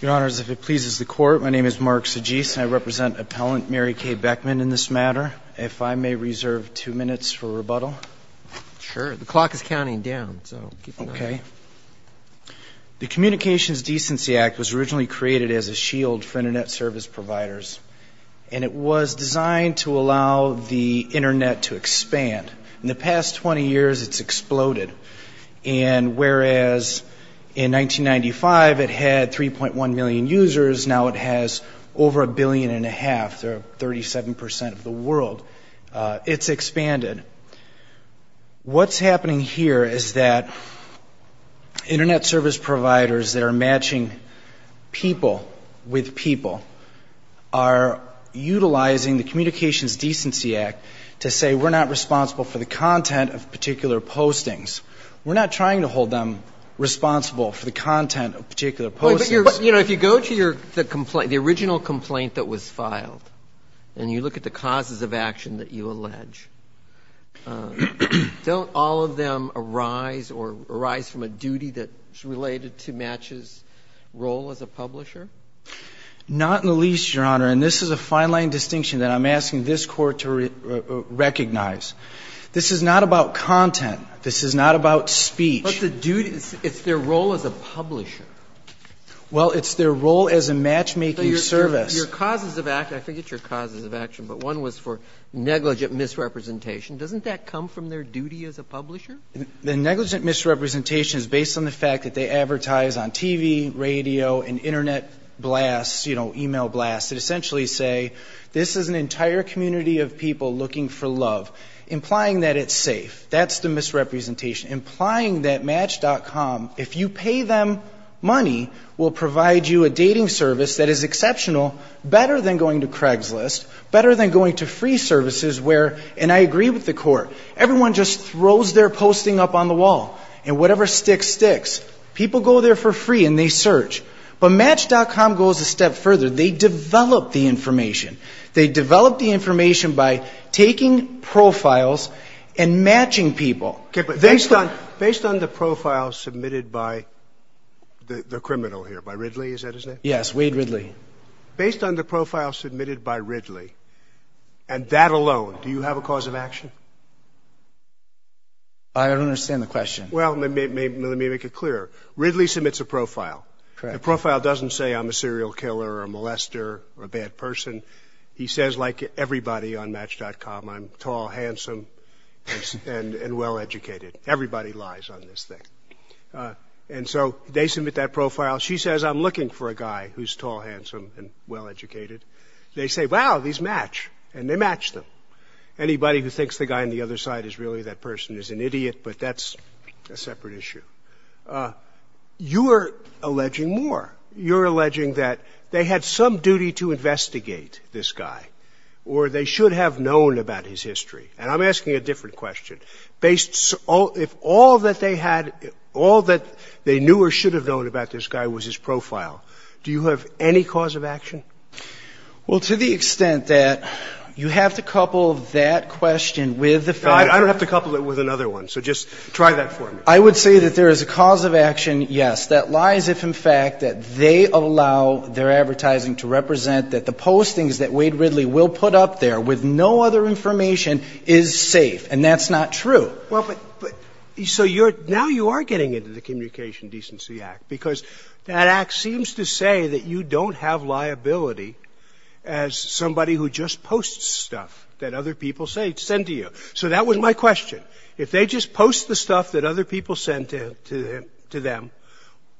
Your Honors, if it pleases the Court, my name is Mark Sagis and I represent appellant Mary K. Beckman in this matter. If I may reserve two minutes for rebuttal? Sure. The clock is counting down, so keep an eye on it. The Communications Decency Act was originally created as a shield for Internet service providers and it was designed to allow the Internet to expand. In the past 20 years, it's exploded. And whereas in 1995 it had 3.1 million users, now it has over a billion and a half. They're 37% of the world. It's expanded. What's happening here is that Internet service providers that are matching people with people are utilizing the Communications Decency Act to say we're not responsible for the content of particular postings. We're not trying to hold them responsible for the content of particular postings. But, you know, if you go to the original complaint that was filed and you look at the causes of action that you allege, don't all of them arise or arise from a duty that's related to Match's role as a publisher? Not in the least, Your Honor. And this is a fine-line distinction that I'm asking this Court to recognize. This is not about content. This is not about speech. But the duty — it's their role as a publisher. Well, it's their role as a matchmaking service. So your causes of action — I forget your causes of action, but one was for negligent misrepresentation. Doesn't that come from their duty as a publisher? The negligent misrepresentation is based on the fact that they advertise on TV, radio, and Internet blasts, you know, email blasts, that essentially say this is an entire community of people looking for love, implying that it's safe. That's the misrepresentation, implying that Match.com, if you pay them money, will provide you a dating service that is exceptional, better than going to Craigslist, better than going to free services where — and I agree with the Court — everyone just throws their posting up on the wall. And whatever sticks, sticks. People go there for free and they search. But Match.com goes a step further. They develop the information. They develop the information by taking profiles and matching people. Based on the profile submitted by the criminal here, by Ridley, is that his name? Yes, Wade Ridley. Based on the profile submitted by Ridley, and that alone, do you have a cause of action? I don't understand the question. Well, let me make it clear. Ridley submits a profile. Correct. The profile doesn't say I'm a serial killer or a molester or a bad person. He says, like everybody on Match.com, I'm tall, handsome, and well-educated. Everybody lies on this thing. And so they submit that profile. She says, I'm looking for a guy who's tall, handsome, and well-educated. They say, wow, these match. And they match them. Anybody who thinks the guy on the other side is really that person is an idiot, but that's a separate issue. You're alleging more. You're alleging that they had some duty to investigate this guy, or they should have known about his history. And I'm asking a different question. Based if all that they had, all that they knew or should have known about this guy was his profile, do you have any cause of action? Well, to the extent that you have to couple that question with the fact that I don't have to couple it with another one. So just try that for me. I would say that there is a cause of action, yes, that lies if, in fact, that they allow their advertising to represent that the postings that Wade Ridley will put up there with no other information is safe. And that's not true. Well, but so now you are getting into the Communication Decency Act, because that act seems to say that you don't have liability as somebody who just posts stuff that other people send to you. So that was my question. If they just post the stuff that other people send to them,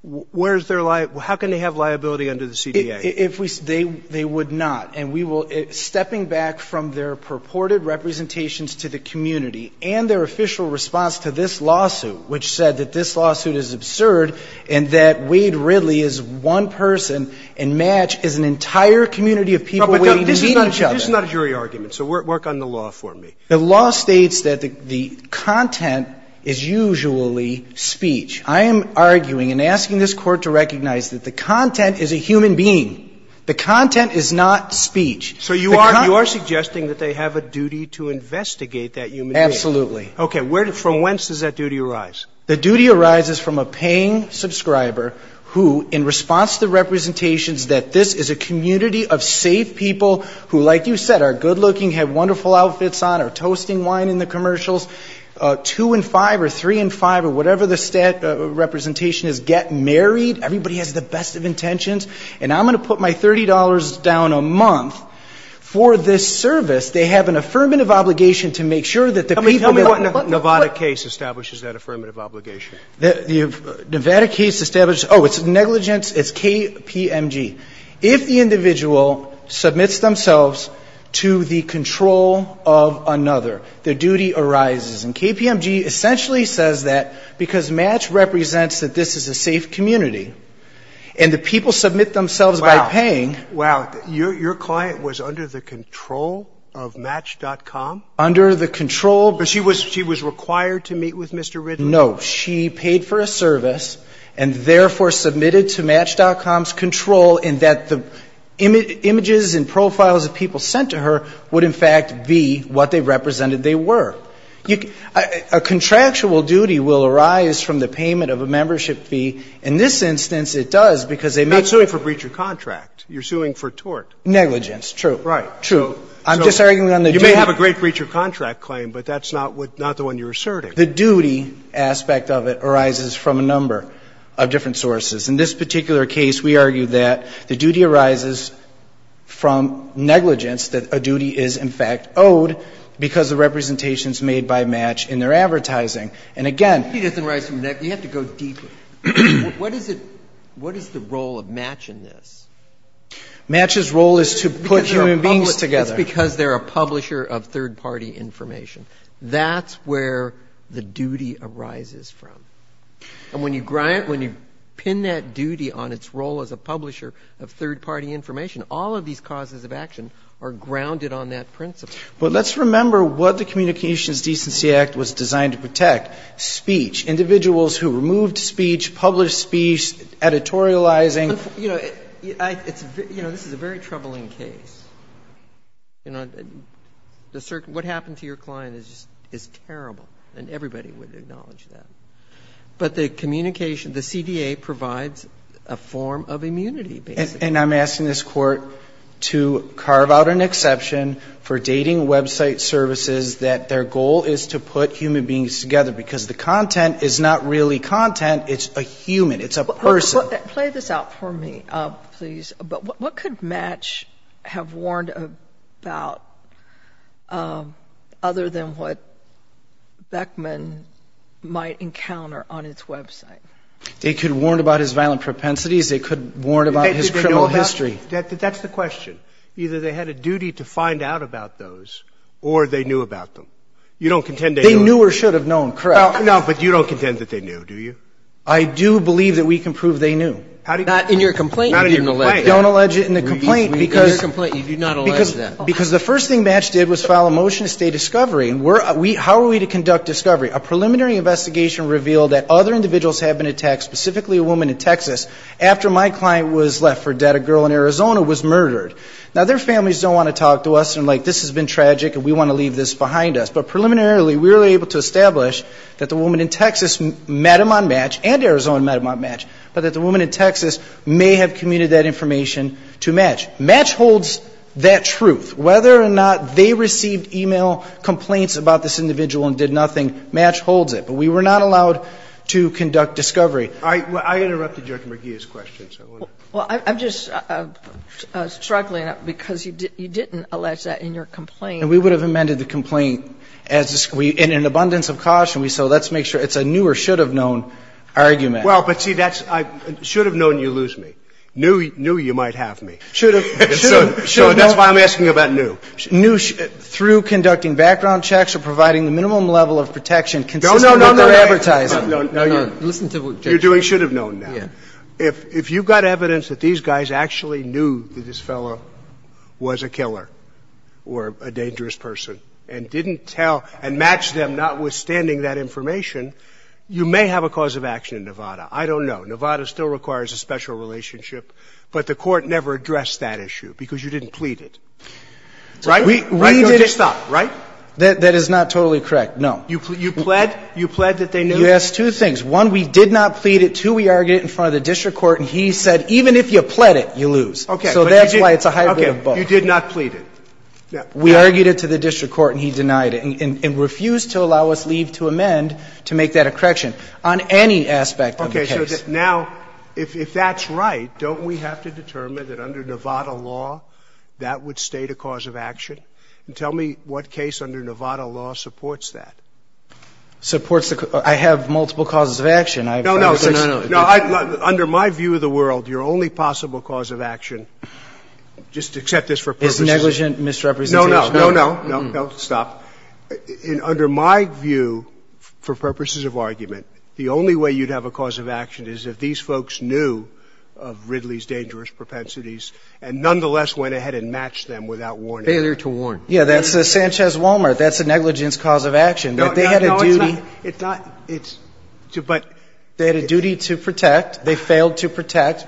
where is their liability? How can they have liability under the CDA? They would not. And we will – stepping back from their purported representations to the community and their official response to this lawsuit, which said that this lawsuit is absurd and that Wade Ridley is one person and Match is an entire community of people waiting to meet each other. But this is not a jury argument. So work on the law for me. The law states that the content is usually speech. I am arguing and asking this Court to recognize that the content is a human being. The content is not speech. So you are suggesting that they have a duty to investigate that human being? Absolutely. Okay. From whence does that duty arise? The duty arises from a paying subscriber who, in response to the representations that this is a community of safe people who, like you said, are good looking, have wonderful outfits on, are toasting wine in the commercials, 2 and 5 or 3 and 5 or whatever the stat representation is, get married. Everybody has the best of intentions. And I'm going to put my $30 down a month for this service. They have an affirmative obligation to make sure that the people that – Tell me what Nevada case establishes that affirmative obligation. The Nevada case establishes – oh, it's negligence. It's KPMG. If the individual submits themselves to the control of another, their duty arises. And KPMG essentially says that because Match represents that this is a safe community and the people submit themselves by paying – Wow. Wow. Your client was under the control of Match.com? Under the control – But she was required to meet with Mr. Ridley? No. She paid for a service and therefore submitted to Match.com's control in that the images and profiles of people sent to her would, in fact, be what they represented they were. A contractual duty will arise from the payment of a membership fee. In this instance, it does because they met – Not suing for breach of contract. You're suing for tort. Negligence, true. Right. True. I'm just arguing on the duty – You may have a great breach of contract claim, but that's not the one you're asserting. The duty aspect of it arises from a number of different sources. In this particular case, we argue that the duty arises from negligence, that a duty is, in fact, owed because the representations made by Match in their advertising. And again – She doesn't rise from the neck. You have to go deeper. What is the role of Match in this? Match's role is to put human beings together. It's because they're a publisher of third-party information. That's where the duty arises from. And when you pin that duty on its role as a publisher of third-party information, all of these causes of action are grounded on that principle. But let's remember what the Communications Decency Act was designed to protect. Speech. Individuals who removed speech, published speech, editorializing. You know, this is a very troubling case. What happened to your client is terrible, and everybody would acknowledge that. But the communication, the CDA provides a form of immunity, basically. And I'm asking this Court to carve out an exception for dating website services that their goal is to put human beings together because the content is not really content. It's a human. It's a person. Play this out for me, please. But what could Match have warned about other than what Beckman might encounter on its website? They could have warned about his violent propensities. They could have warned about his criminal history. That's the question. Either they had a duty to find out about those or they knew about them. You don't contend they knew. They knew or should have known, correct. No, but you don't contend that they knew, do you? I do believe that we can prove they knew. Not in your complaint. Not in your complaint. Don't allege it in the complaint because the first thing Match did was file a motion to stay discovery. How are we to conduct discovery? A preliminary investigation revealed that other individuals have been attacked, specifically a woman in Texas, after my client was left for dead. A girl in Arizona was murdered. Now, their families don't want to talk to us. They're like, this has been tragic and we want to leave this behind us. But preliminarily, we were able to establish that the woman in Texas met him on Match and Arizona met him on Match, but that the woman in Texas may have commuted that information to Match. Match holds that truth. Whether or not they received e-mail complaints about this individual and did nothing, Match holds it. But we were not allowed to conduct discovery. I interrupted Judge McGeeh's question. Well, I'm just struggling because you didn't allege that in your complaint. And we would have amended the complaint in an abundance of caution. So let's make sure it's a knew or should have known argument. Well, but, see, that's should have known you lose me. Knew you might have me. Should have. Should have known. That's why I'm asking about knew. Knew through conducting background checks or providing the minimum level of protection consistent with their advertising. No, no, no, no. No, no, no. Listen to Judge. You're doing should have known now. Yeah. If you've got evidence that these guys actually knew that this fellow was a killer or a dangerous person and didn't tell and match them, notwithstanding that information, you may have a cause of action in Nevada. I don't know. Nevada still requires a special relationship, but the Court never addressed that issue because you didn't plead it. Right? We didn't. Right, Judge? Stop. Right? That is not totally correct. No. You pled? You pled that they knew? You asked two things. One, we did not plead it. Two, we argued it in front of the district court, and he said even if you pled it, you lose. Okay. So that's why it's a hybrid of both. Okay. You did not plead it. We argued it to the district court, and he denied it and refused to allow us leave to amend to make that a correction on any aspect of the case. Okay. Now, if that's right, don't we have to determine that under Nevada law that would state a cause of action? And tell me what case under Nevada law supports that. Supports the cause of action. I have multiple causes of action. No, no. No, under my view of the world, your only possible cause of action, just accept this for purposes of argument. Is negligent misrepresentation. No, no. No, no. No, no. Stop. Under my view, for purposes of argument, the only way you'd have a cause of action is if these folks knew of Ridley's dangerous propensities and nonetheless went ahead and matched them without warning. Failure to warn. Yeah, that's Sanchez-Walmart. That's a negligence cause of action. That they had a duty. No, it's not. It's not. But. They had a duty to protect. They failed to protect.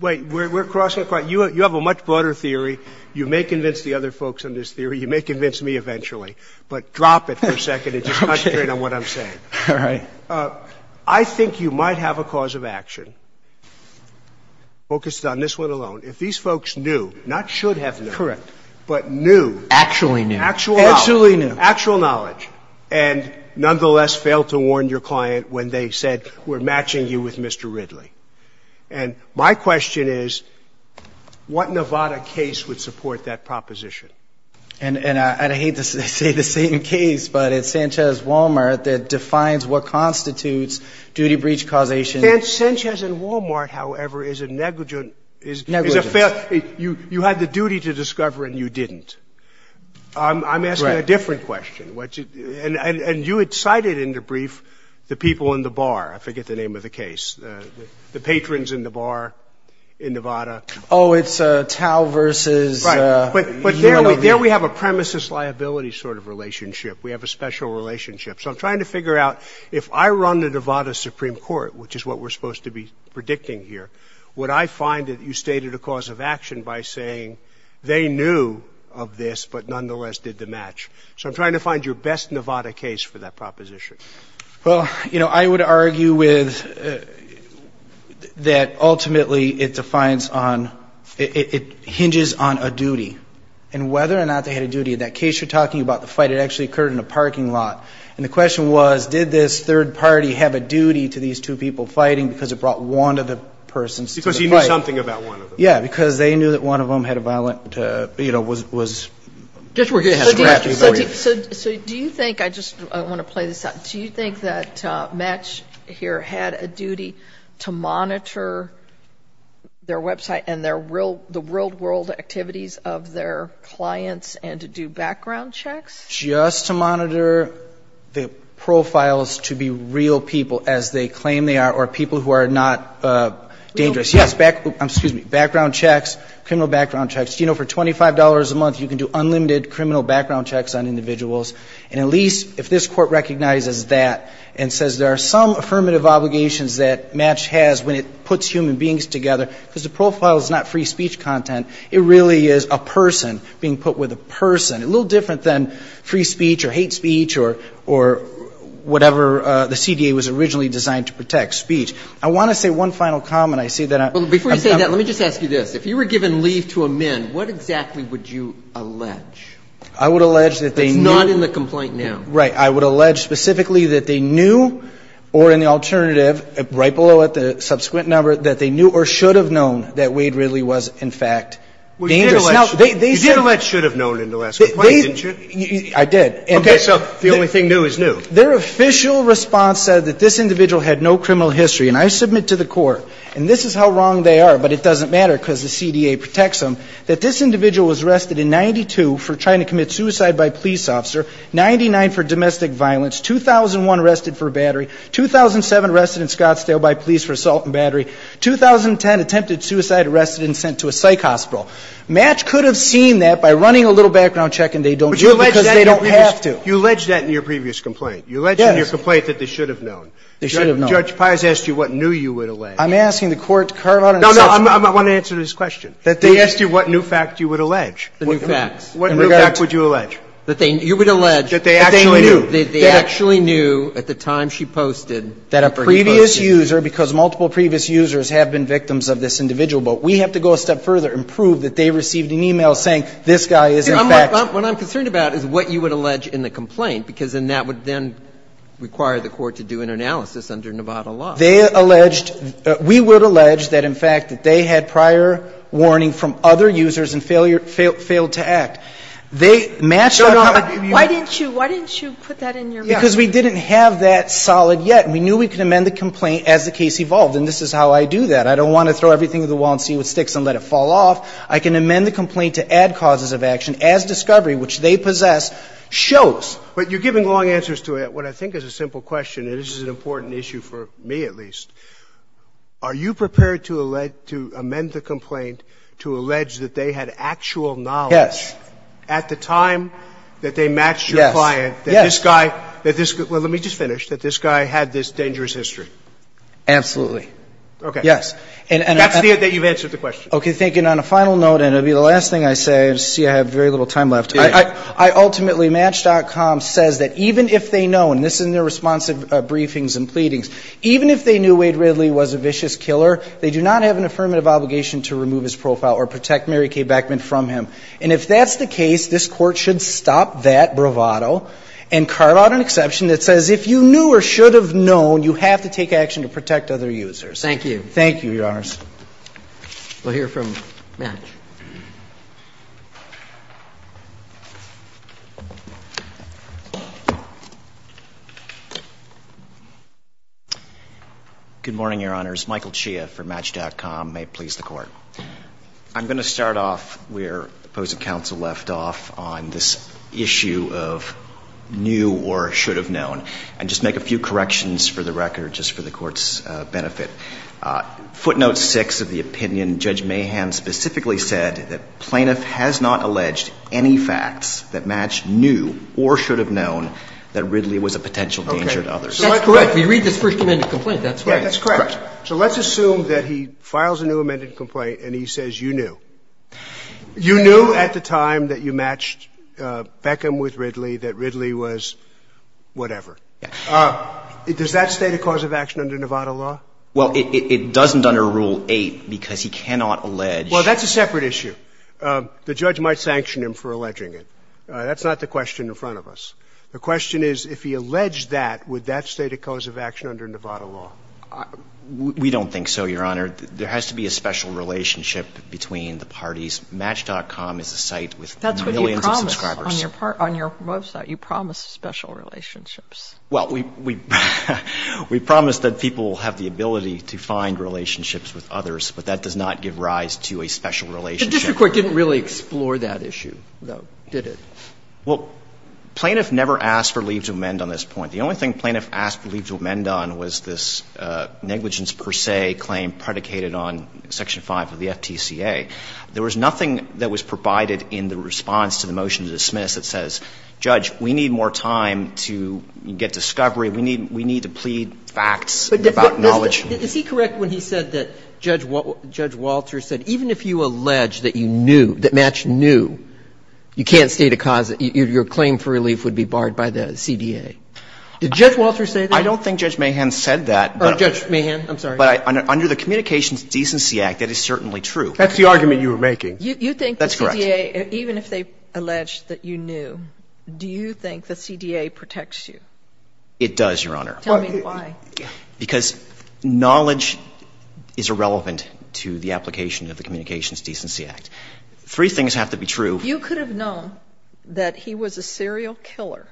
Wait. We're crossing a point. You have a much broader theory. You may convince the other folks on this theory. You may convince me eventually. But drop it for a second and just concentrate on what I'm saying. Okay. All right. I think you might have a cause of action focused on this one alone. If these folks knew, not should have known. Correct. But knew. Actually knew. Actually knew. Actual knowledge. And nonetheless failed to warn your client when they said we're matching you with Mr. Ridley. And my question is what Nevada case would support that proposition? And I hate to say the same case, but it's Sanchez-Walmart that defines what constitutes duty breach causation. Sanchez-Walmart, however, is a negligent. Negligent. You had the duty to discover and you didn't. I'm asking a different question. And you had cited in the brief the people in the bar. I forget the name of the case. The patrons in the bar in Nevada. Oh, it's Tao versus. Right. But there we have a premises liability sort of relationship. We have a special relationship. So I'm trying to figure out if I run the Nevada Supreme Court, which is what we're supposed to be predicting here, would I find that you stated a cause of action by saying they knew of this but nonetheless did the match. So I'm trying to find your best Nevada case for that proposition. Well, you know, I would argue with that ultimately it defines on ‑‑ it hinges on a duty. And whether or not they had a duty in that case you're talking about, the fight actually occurred in a parking lot. And the question was did this third party have a duty to these two people fighting because it brought one of the persons to the fight. Because he knew something about one of them. Yeah, because they knew that one of them had a violent, you know, was. So do you think, I just want to play this out, do you think that Match here had a duty to monitor their website and their real, the real world activities of their clients and to do background checks? Just to monitor the profiles to be real people as they claim they are or people who are not dangerous. Real people. Yes. Excuse me. Background checks, criminal background checks. You know, for $25 a month you can do unlimited criminal background checks on individuals. And at least if this Court recognizes that and says there are some affirmative obligations that Match has when it puts human beings together, because the profile is not free speech content. It really is a person being put with a person. A little different than free speech or hate speech or whatever the CDA was originally designed to protect, speech. I want to say one final comment. I see that I'm coming. Well, before you say that, let me just ask you this. If you were given leave to amend, what exactly would you allege? I would allege that they knew. That's not in the complaint now. Right. I would allege specifically that they knew or in the alternative right below it, the dangerous. You did allege should have known in the last complaint, didn't you? I did. Okay. So the only thing new is new. Their official response said that this individual had no criminal history. And I submit to the Court, and this is how wrong they are, but it doesn't matter because the CDA protects them, that this individual was arrested in 92 for trying to commit suicide by police officer, 99 for domestic violence, 2001 arrested for battery, 2007 arrested in Scottsdale by police for assault and battery, 2010 attempted suicide, arrested and sent to a psych hospital. Match could have seen that by running a little background check and they don't do it because they don't have to. But you allege that in your previous complaint. Yes. You allege in your previous complaint that they should have known. They should have known. Judge Paz asked you what knew you would allege. I'm asking the Court to carve out an assessment. No, no. I want to answer this question. That they asked you what new fact you would allege. The new facts. What new fact would you allege? You would allege that they actually knew. That they actually knew at the time she posted. That a previous user, because multiple previous users have been victims of this individual, but we have to go a step further and prove that they received an e-mail saying this guy is in fact. What I'm concerned about is what you would allege in the complaint because then that would then require the Court to do an analysis under Nevada law. They alleged, we would allege that in fact that they had prior warning from other users and failed to act. They matched. Why didn't you, why didn't you put that in your report? Because we didn't have that solid yet. And we knew we could amend the complaint as the case evolved. And this is how I do that. I don't want to throw everything to the wall and see what sticks and let it fall off. I can amend the complaint to add causes of action as discovery, which they possess, shows. But you're giving long answers to what I think is a simple question. And this is an important issue for me at least. Are you prepared to amend the complaint to allege that they had actual knowledge. Yes. At the time that they matched your client. Yes. That this guy, let me just finish, that this guy had this dangerous history. Absolutely. Okay. Yes. That's the, that you've answered the question. Okay. Thank you. And on a final note, and it will be the last thing I say, I see I have very little time left. I ultimately, Match.com says that even if they know, and this is in their responsive briefings and pleadings, even if they knew Wade Ridley was a vicious killer, they do not have an affirmative obligation to remove his profile or protect Mary Kay Beckman from him. And if that's the case, this Court should stop that bravado and carve out an exception that says if you knew or should have known, you have to take action to protect other users. Thank you. Thank you, Your Honors. We'll hear from Match. Good morning, Your Honors. Michael Chia for Match.com. May it please the Court. I'm going to start off where the opposing counsel left off on this issue of knew or should have known, and just make a few corrections for the record just for the Court's benefit. Footnote 6 of the opinion, Judge Mahan specifically said that plaintiff has not alleged any facts that match knew or should have known that Ridley was a potential danger to others. That's correct. We read this first amended complaint. That's right. That's correct. So let's assume that he files a new amended complaint and he says you knew. You knew at the time that you matched Beckman with Ridley that Ridley was whatever. Yes. Does that state a cause of action under Nevada law? Well, it doesn't under Rule 8 because he cannot allege. Well, that's a separate issue. The judge might sanction him for alleging it. That's not the question in front of us. The question is if he alleged that, would that state a cause of action under Nevada law? We don't think so, Your Honor. There has to be a special relationship between the parties. Match.com is a site with millions of subscribers. That's what you promised on your website. You promised special relationships. Well, we promised that people have the ability to find relationships with others, but that does not give rise to a special relationship. The district court didn't really explore that issue, though, did it? Well, plaintiff never asked for leave to amend on this point. The only thing plaintiff asked leave to amend on was this negligence per se claim predicated on Section 5 of the FTCA. There was nothing that was provided in the response to the motion to dismiss that says, Judge, we need more time to get discovery. We need to plead facts about knowledge. But is he correct when he said that Judge Walter said even if you allege that you knew, that Match knew, you can't state a cause that your claim for relief would be barred by the CDA? Did Judge Walter say that? I don't think Judge Mahan said that. Oh, Judge Mahan, I'm sorry. But under the Communications Decency Act, that is certainly true. That's the argument you were making. That's correct. You think the CDA, even if they allege that you knew, do you think the CDA protects you? It does, Your Honor. Tell me why. Because knowledge is irrelevant to the application of the Communications Decency Act. Three things have to be true. If you could have known that he was a serial killer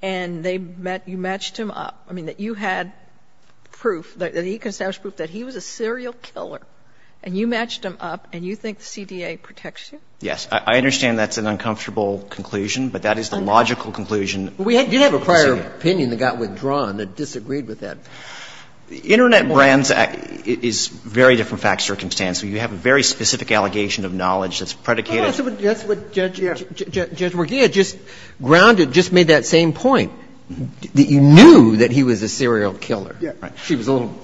and you matched him up, I mean, that you had proof that he was a serial killer and you matched him up and you think the CDA protects you? Yes. I understand that's an uncomfortable conclusion, but that is the logical conclusion. We did have a prior opinion that got withdrawn that disagreed with that. The Internet Brands Act is very different fact circumstance. So you have a very specific allegation of knowledge that's predicated. Well, that's what Judge Morgia just grounded, just made that same point, that you knew that he was a serial killer. Yes. She was a little,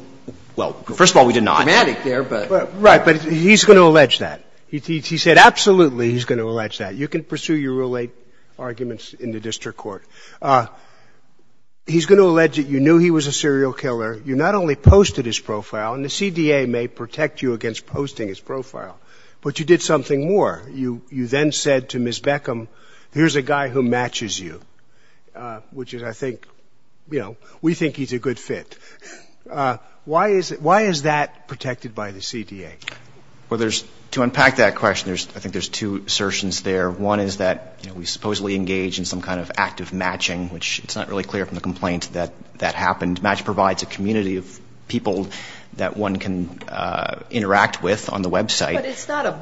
well, first of all, we did not. Dramatic there, but. Right. But he's going to allege that. He said absolutely he's going to allege that. You can pursue your rule 8 arguments in the district court. He's going to allege that you knew he was a serial killer. You not only posted his profile, and the CDA may protect you against posting his profile, but you did something more. You then said to Ms. Beckham, here's a guy who matches you, which is, I think, you know, we think he's a good fit. Why is that protected by the CDA? Well, to unpack that question, I think there's two assertions there. One is that we supposedly engage in some kind of active matching, which it's not really clear from the complaint that that happened. Match provides a community of people that one can interact with on the website. But it's not a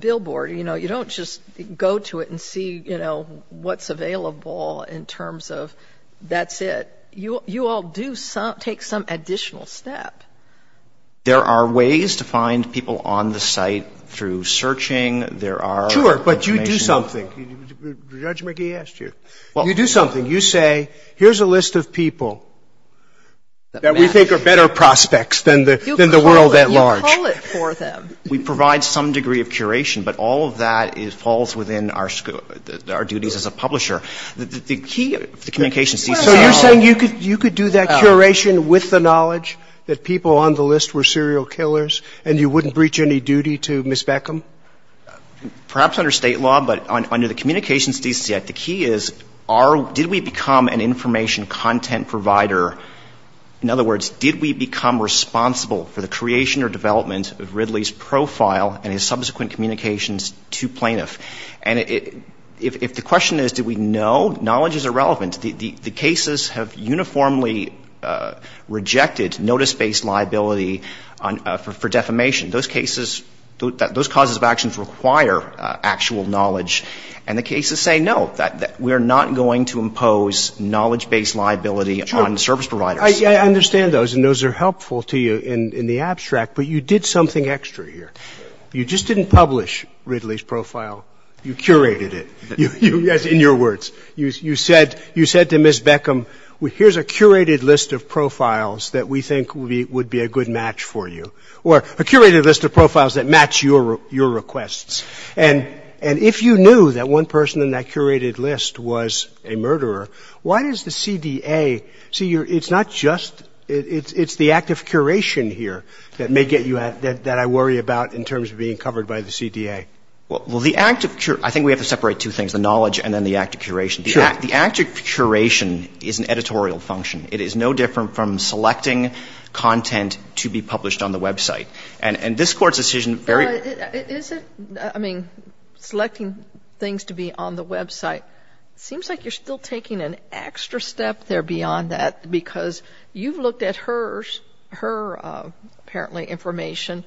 billboard. You know, you don't just go to it and see, you know, what's available in terms of that's it. You all do take some additional step. There are ways to find people on the site through searching. There are information. Sure, but you do something. Judge McGee asked you. You do something. You say, here's a list of people that we think are better prospects than the world at large. You call it for them. We provide some degree of curation, but all of that falls within our duties as a publisher. The key of the Communications Decency Act. So you're saying you could do that curation with the knowledge that people on the list were serial killers and you wouldn't breach any duty to Ms. Beckham? Perhaps under State law, but under the Communications Decency Act, the key is, did we become an information content provider? In other words, did we become responsible for the creation or development of Ridley's profile and his subsequent communications to plaintiffs? And if the question is, did we know, knowledge is irrelevant. The cases have uniformly rejected notice-based liability for defamation. Those cases, those causes of actions require actual knowledge. And the cases say, no, we're not going to impose knowledge-based liability on service providers. I understand those, and those are helpful to you in the abstract, but you did something extra here. You just didn't publish Ridley's profile. You curated it. In your words. You said to Ms. Beckham, here's a curated list of profiles that we think would be a good match for you, or a curated list of profiles that match your requests. And if you knew that one person in that curated list was a murderer, why does the CDA see your — it's not just — it's the act of curation here that may get you — that I worry about in terms of being covered by the CDA. Well, the act of — I think we have to separate two things, the knowledge and then the act of curation. Sure. The act of curation is an editorial function. It is no different from selecting content to be published on the website. And this Court's decision very — But is it — I mean, selecting things to be on the website, it seems like you're still taking an extra step there beyond that, because you've looked at her, apparently, information,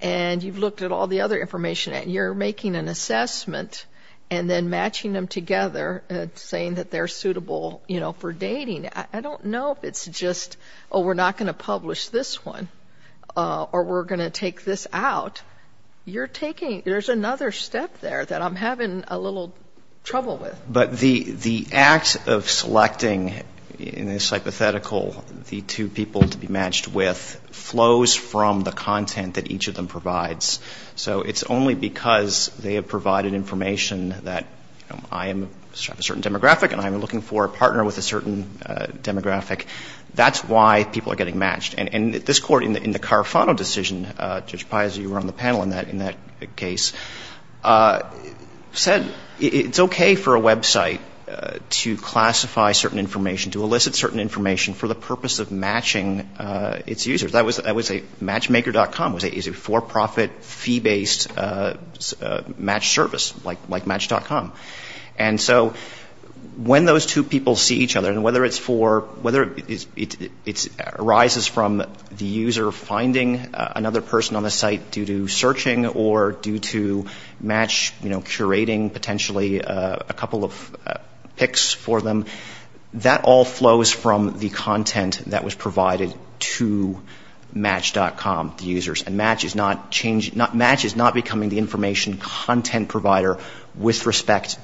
and you've looked at all the other information, and you're making an assessment and then matching them together and saying that they're suitable, you know, for dating. I don't know if it's just, oh, we're not going to publish this one, or we're going to take this out. You're taking — there's another step there that I'm having a little trouble with. But the act of selecting in this hypothetical the two people to be matched with flows from the content that each of them provides. So it's only because they have provided information that, you know, I have a certain demographic and I'm looking for a partner with a certain demographic. That's why people are getting matched. And this Court, in the Carafano decision, Judge Piazza, you were on the panel in that case, said it's okay for a website to classify certain information, to elicit certain information for the purpose of matching its users. That was a matchmaker.com. It was a for-profit, fee-based match service, like Match.com. And so when those two people see each other, and whether it's for — whether it arises from the user finding another person on the site due to searching or due to Match, you know, curating potentially a couple of picks for them, that all flows from the content that was provided to Match.com, the users. And Match is not changing — Match is not becoming the information content provider with respect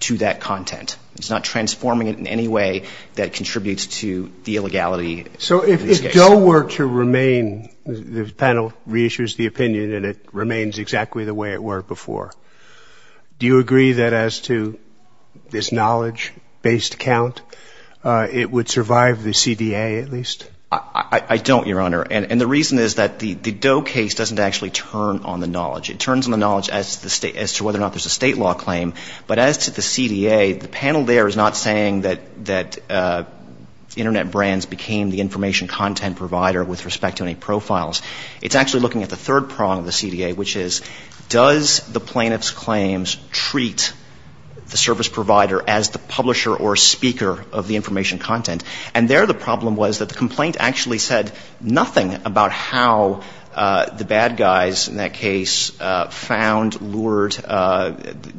to that content. It's not transforming it in any way that contributes to the illegality of these cases. If Doe were to remain — the panel reissues the opinion that it remains exactly the way it were before. Do you agree that as to this knowledge-based account, it would survive the CDA at least? I don't, Your Honor. And the reason is that the Doe case doesn't actually turn on the knowledge. It turns on the knowledge as to whether or not there's a state law claim. But as to the CDA, the panel there is not saying that Internet brands became the information content provider with respect to any profiles. It's actually looking at the third prong of the CDA, which is, does the plaintiff's claims treat the service provider as the publisher or speaker of the information content? And there the problem was that the complaint actually said nothing about how the bad guys in that case found, lured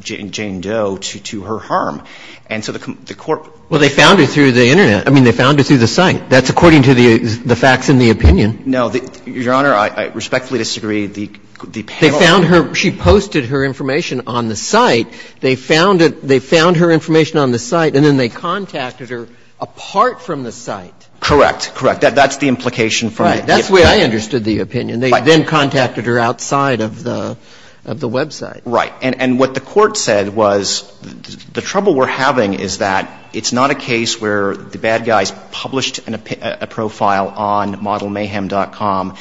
Jane Doe to her harm. And so the court — Well, they found her through the Internet. I mean, they found her through the site. That's according to the facts in the opinion. No. Your Honor, I respectfully disagree. The panel — They found her. She posted her information on the site. They found it — they found her information on the site, and then they contacted her apart from the site. Correct. Correct. That's the implication from the — Right. That's the way I understood the opinion. They then contacted her outside of the website. Right. And what the court said was the trouble we're having is that it's not a case where the bad guys published a profile on ModelMayhem.com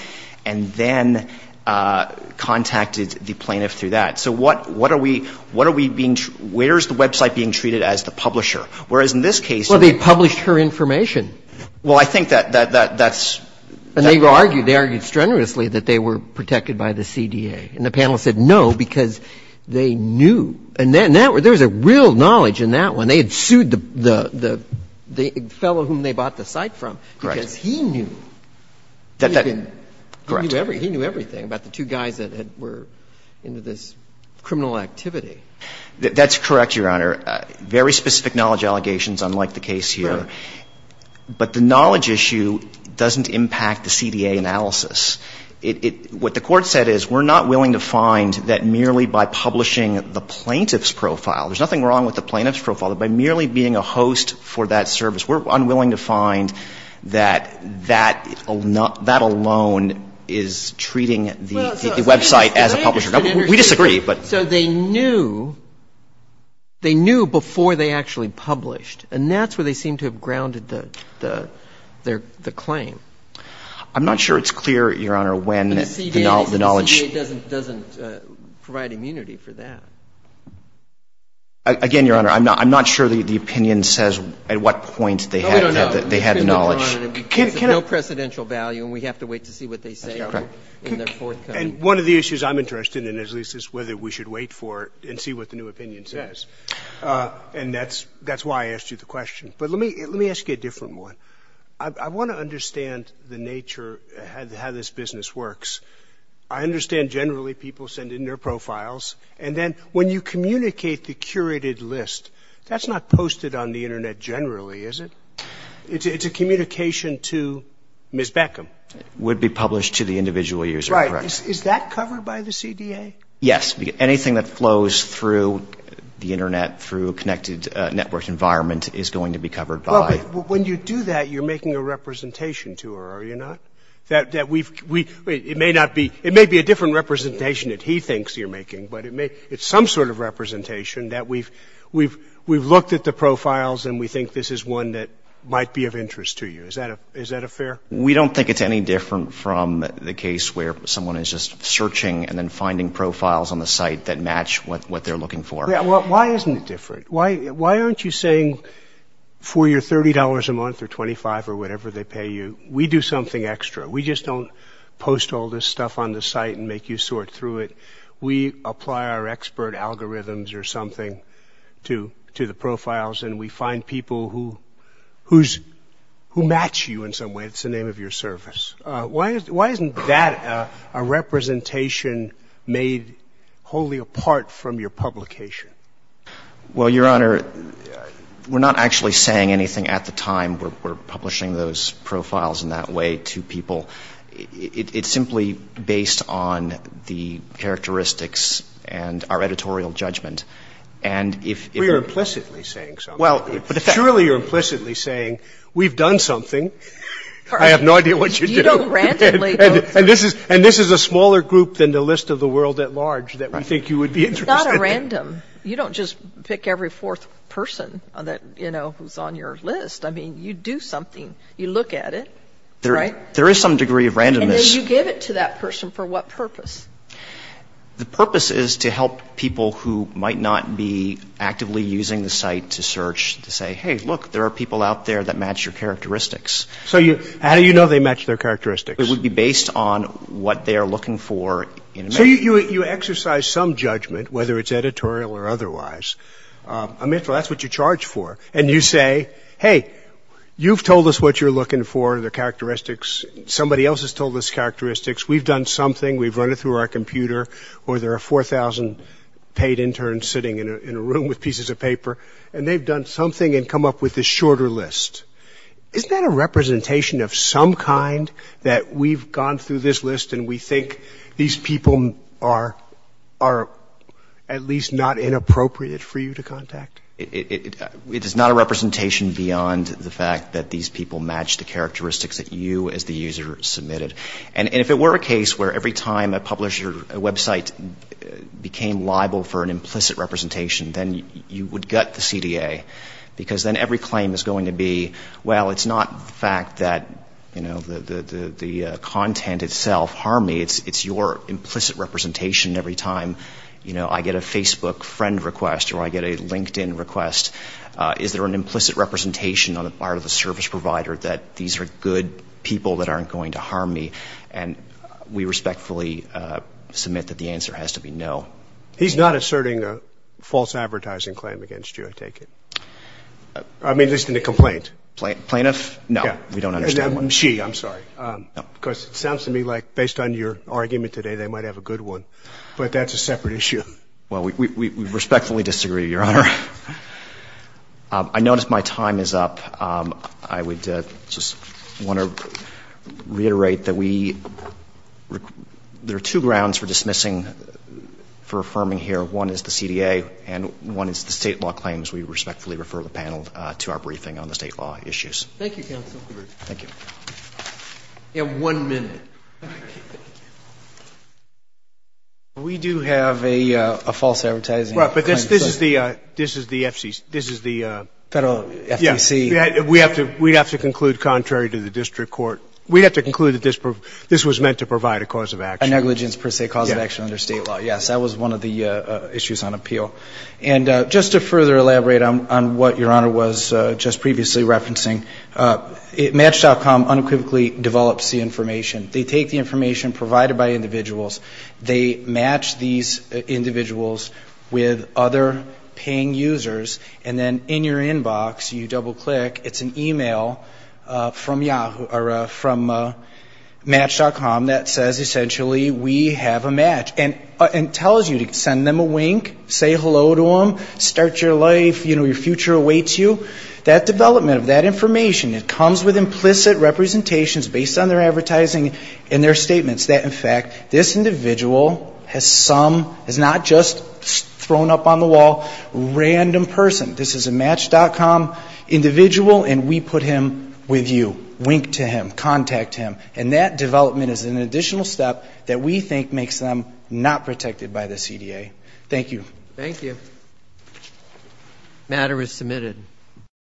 and then contacted the plaintiff through that. So what are we — what are we being — where is the website being treated as the publisher? Whereas in this case — Well, they published her information. Well, I think that's — And they argued — they argued strenuously that they were protected by the CDA. And the panel said no because they knew. And there was a real knowledge in that one. And they had sued the — the fellow whom they bought the site from. Correct. Because he knew. Correct. He knew everything about the two guys that were into this criminal activity. That's correct, Your Honor. Very specific knowledge allegations, unlike the case here. Right. But the knowledge issue doesn't impact the CDA analysis. It — what the court said is we're not willing to find that merely by publishing the plaintiff's profile. There's nothing wrong with the plaintiff's profile, but by merely being a host for that service, we're unwilling to find that that alone is treating the website as a publisher. We disagree, but — So they knew — they knew before they actually published. And that's where they seem to have grounded the claim. I'm not sure it's clear, Your Honor, when the knowledge — The CDA doesn't provide immunity for that. Again, Your Honor, I'm not — I'm not sure the opinion says at what point they had the — they had the knowledge. No, we don't know. We don't know. It's of no precedential value, and we have to wait to see what they say in their forthcoming — And one of the issues I'm interested in, at least, is whether we should wait for it and see what the new opinion says. Yes. And that's — that's why I asked you the question. But let me — let me ask you a different one. I want to understand the nature — how this business works. I understand generally people send in their profiles. And then when you communicate the curated list, that's not posted on the Internet generally, is it? It's a communication to Ms. Beckham. Would be published to the individual user, correct. Right. Is that covered by the CDA? Yes. Anything that flows through the Internet, through a connected network environment, is going to be covered by — Well, but when you do that, you're making a representation to her, are you not? That — that we've — we — it may not be — it may be a different representation that he thinks you're making, but it may — it's some sort of representation that we've — we've — we've looked at the profiles, and we think this is one that might be of interest to you. Is that a — is that a fair — We don't think it's any different from the case where someone is just searching and then finding profiles on the site that match what — what they're looking for. Yeah, well, why isn't it different? Why — why aren't you saying for your $30 a month or $25 or whatever they pay you, we do something extra. We just don't post all this stuff on the site and make you sort through it. We apply our expert algorithms or something to — to the profiles, and we find people who — who's — who match you in some way. It's the name of your service. Why isn't — why isn't that a representation made wholly apart from your publication? Well, Your Honor, we're not actually saying anything at the time. We're publishing those profiles in that way to people. It's simply based on the characteristics and our editorial judgment. And if — Well, you're implicitly saying something. Well, but in fact — Surely you're implicitly saying, we've done something. I have no idea what you do. You don't randomly — And this is — and this is a smaller group than the list of the world at large that we think you would be interested in. It's not a random. You don't just pick every fourth person that, you know, who's on your list. I mean, you do something. You look at it, right? There is some degree of randomness. And then you give it to that person for what purpose? The purpose is to help people who might not be actively using the site to search, to say, hey, look, there are people out there that match your characteristics. So you — how do you know they match their characteristics? It would be based on what they are looking for in — So you — you exercise some judgment, whether it's editorial or otherwise. I mean, so that's what you're charged for. And you say, hey, you've told us what you're looking for, the characteristics. Somebody else has told us characteristics. We've done something. We've run it through our computer. Or there are 4,000 paid interns sitting in a room with pieces of paper, and they've done something and come up with this shorter list. Isn't that a representation of some kind that we've gone through this list and we think these people are at least not inappropriate for you to contact? It is not a representation beyond the fact that these people match the characteristics that you as the user submitted. And if it were a case where every time a publisher website became liable for an implicit representation, then you would gut the CDA, because then every claim is going to be, well, it's not the fact that, you know, the content itself harmed me. It's your implicit representation every time, you know, I get a Facebook friend request or I get a LinkedIn request. Is there an implicit representation on the part of the service provider that these are good people that aren't going to harm me? And we respectfully submit that the answer has to be no. He's not asserting a false advertising claim against you, I take it. I mean, at least in a complaint. Plaintiff? No. We don't understand why. She, I'm sorry. No. Because it sounds to me like based on your argument today, they might have a good one. But that's a separate issue. Well, we respectfully disagree, Your Honor. I notice my time is up. I would just want to reiterate that we, there are two grounds for dismissing, for affirming here. One is the CDA and one is the State law claims. We respectfully refer the panel to our briefing on the State law issues. Thank you, counsel. Thank you. You have one minute. We do have a false advertising claim. Right. But this is the FCC. We'd have to conclude contrary to the district court. We'd have to conclude that this was meant to provide a cause of action. A negligence per se, cause of action under State law. Yes. That was one of the issues on appeal. And just to further elaborate on what Your Honor was just previously referencing, Match.com unequivocally develops the information. They take the information provided by individuals. They match these individuals with other paying users. And then in your inbox, you double-click, it's an email from Match.com that says, essentially, we have a match. And it tells you to send them a wink, say hello to them, start your life, you know, your future awaits you. That development of that information, it comes with implicit representations based on their advertising and their statements that, in fact, this individual has some, has not just thrown up on the wall, random person. This is a Match.com individual, and we put him with you. Wink to him. Contact him. And that development is an additional step that we think makes them not protected by the CDA. Thank you. Thank you. The matter is submitted.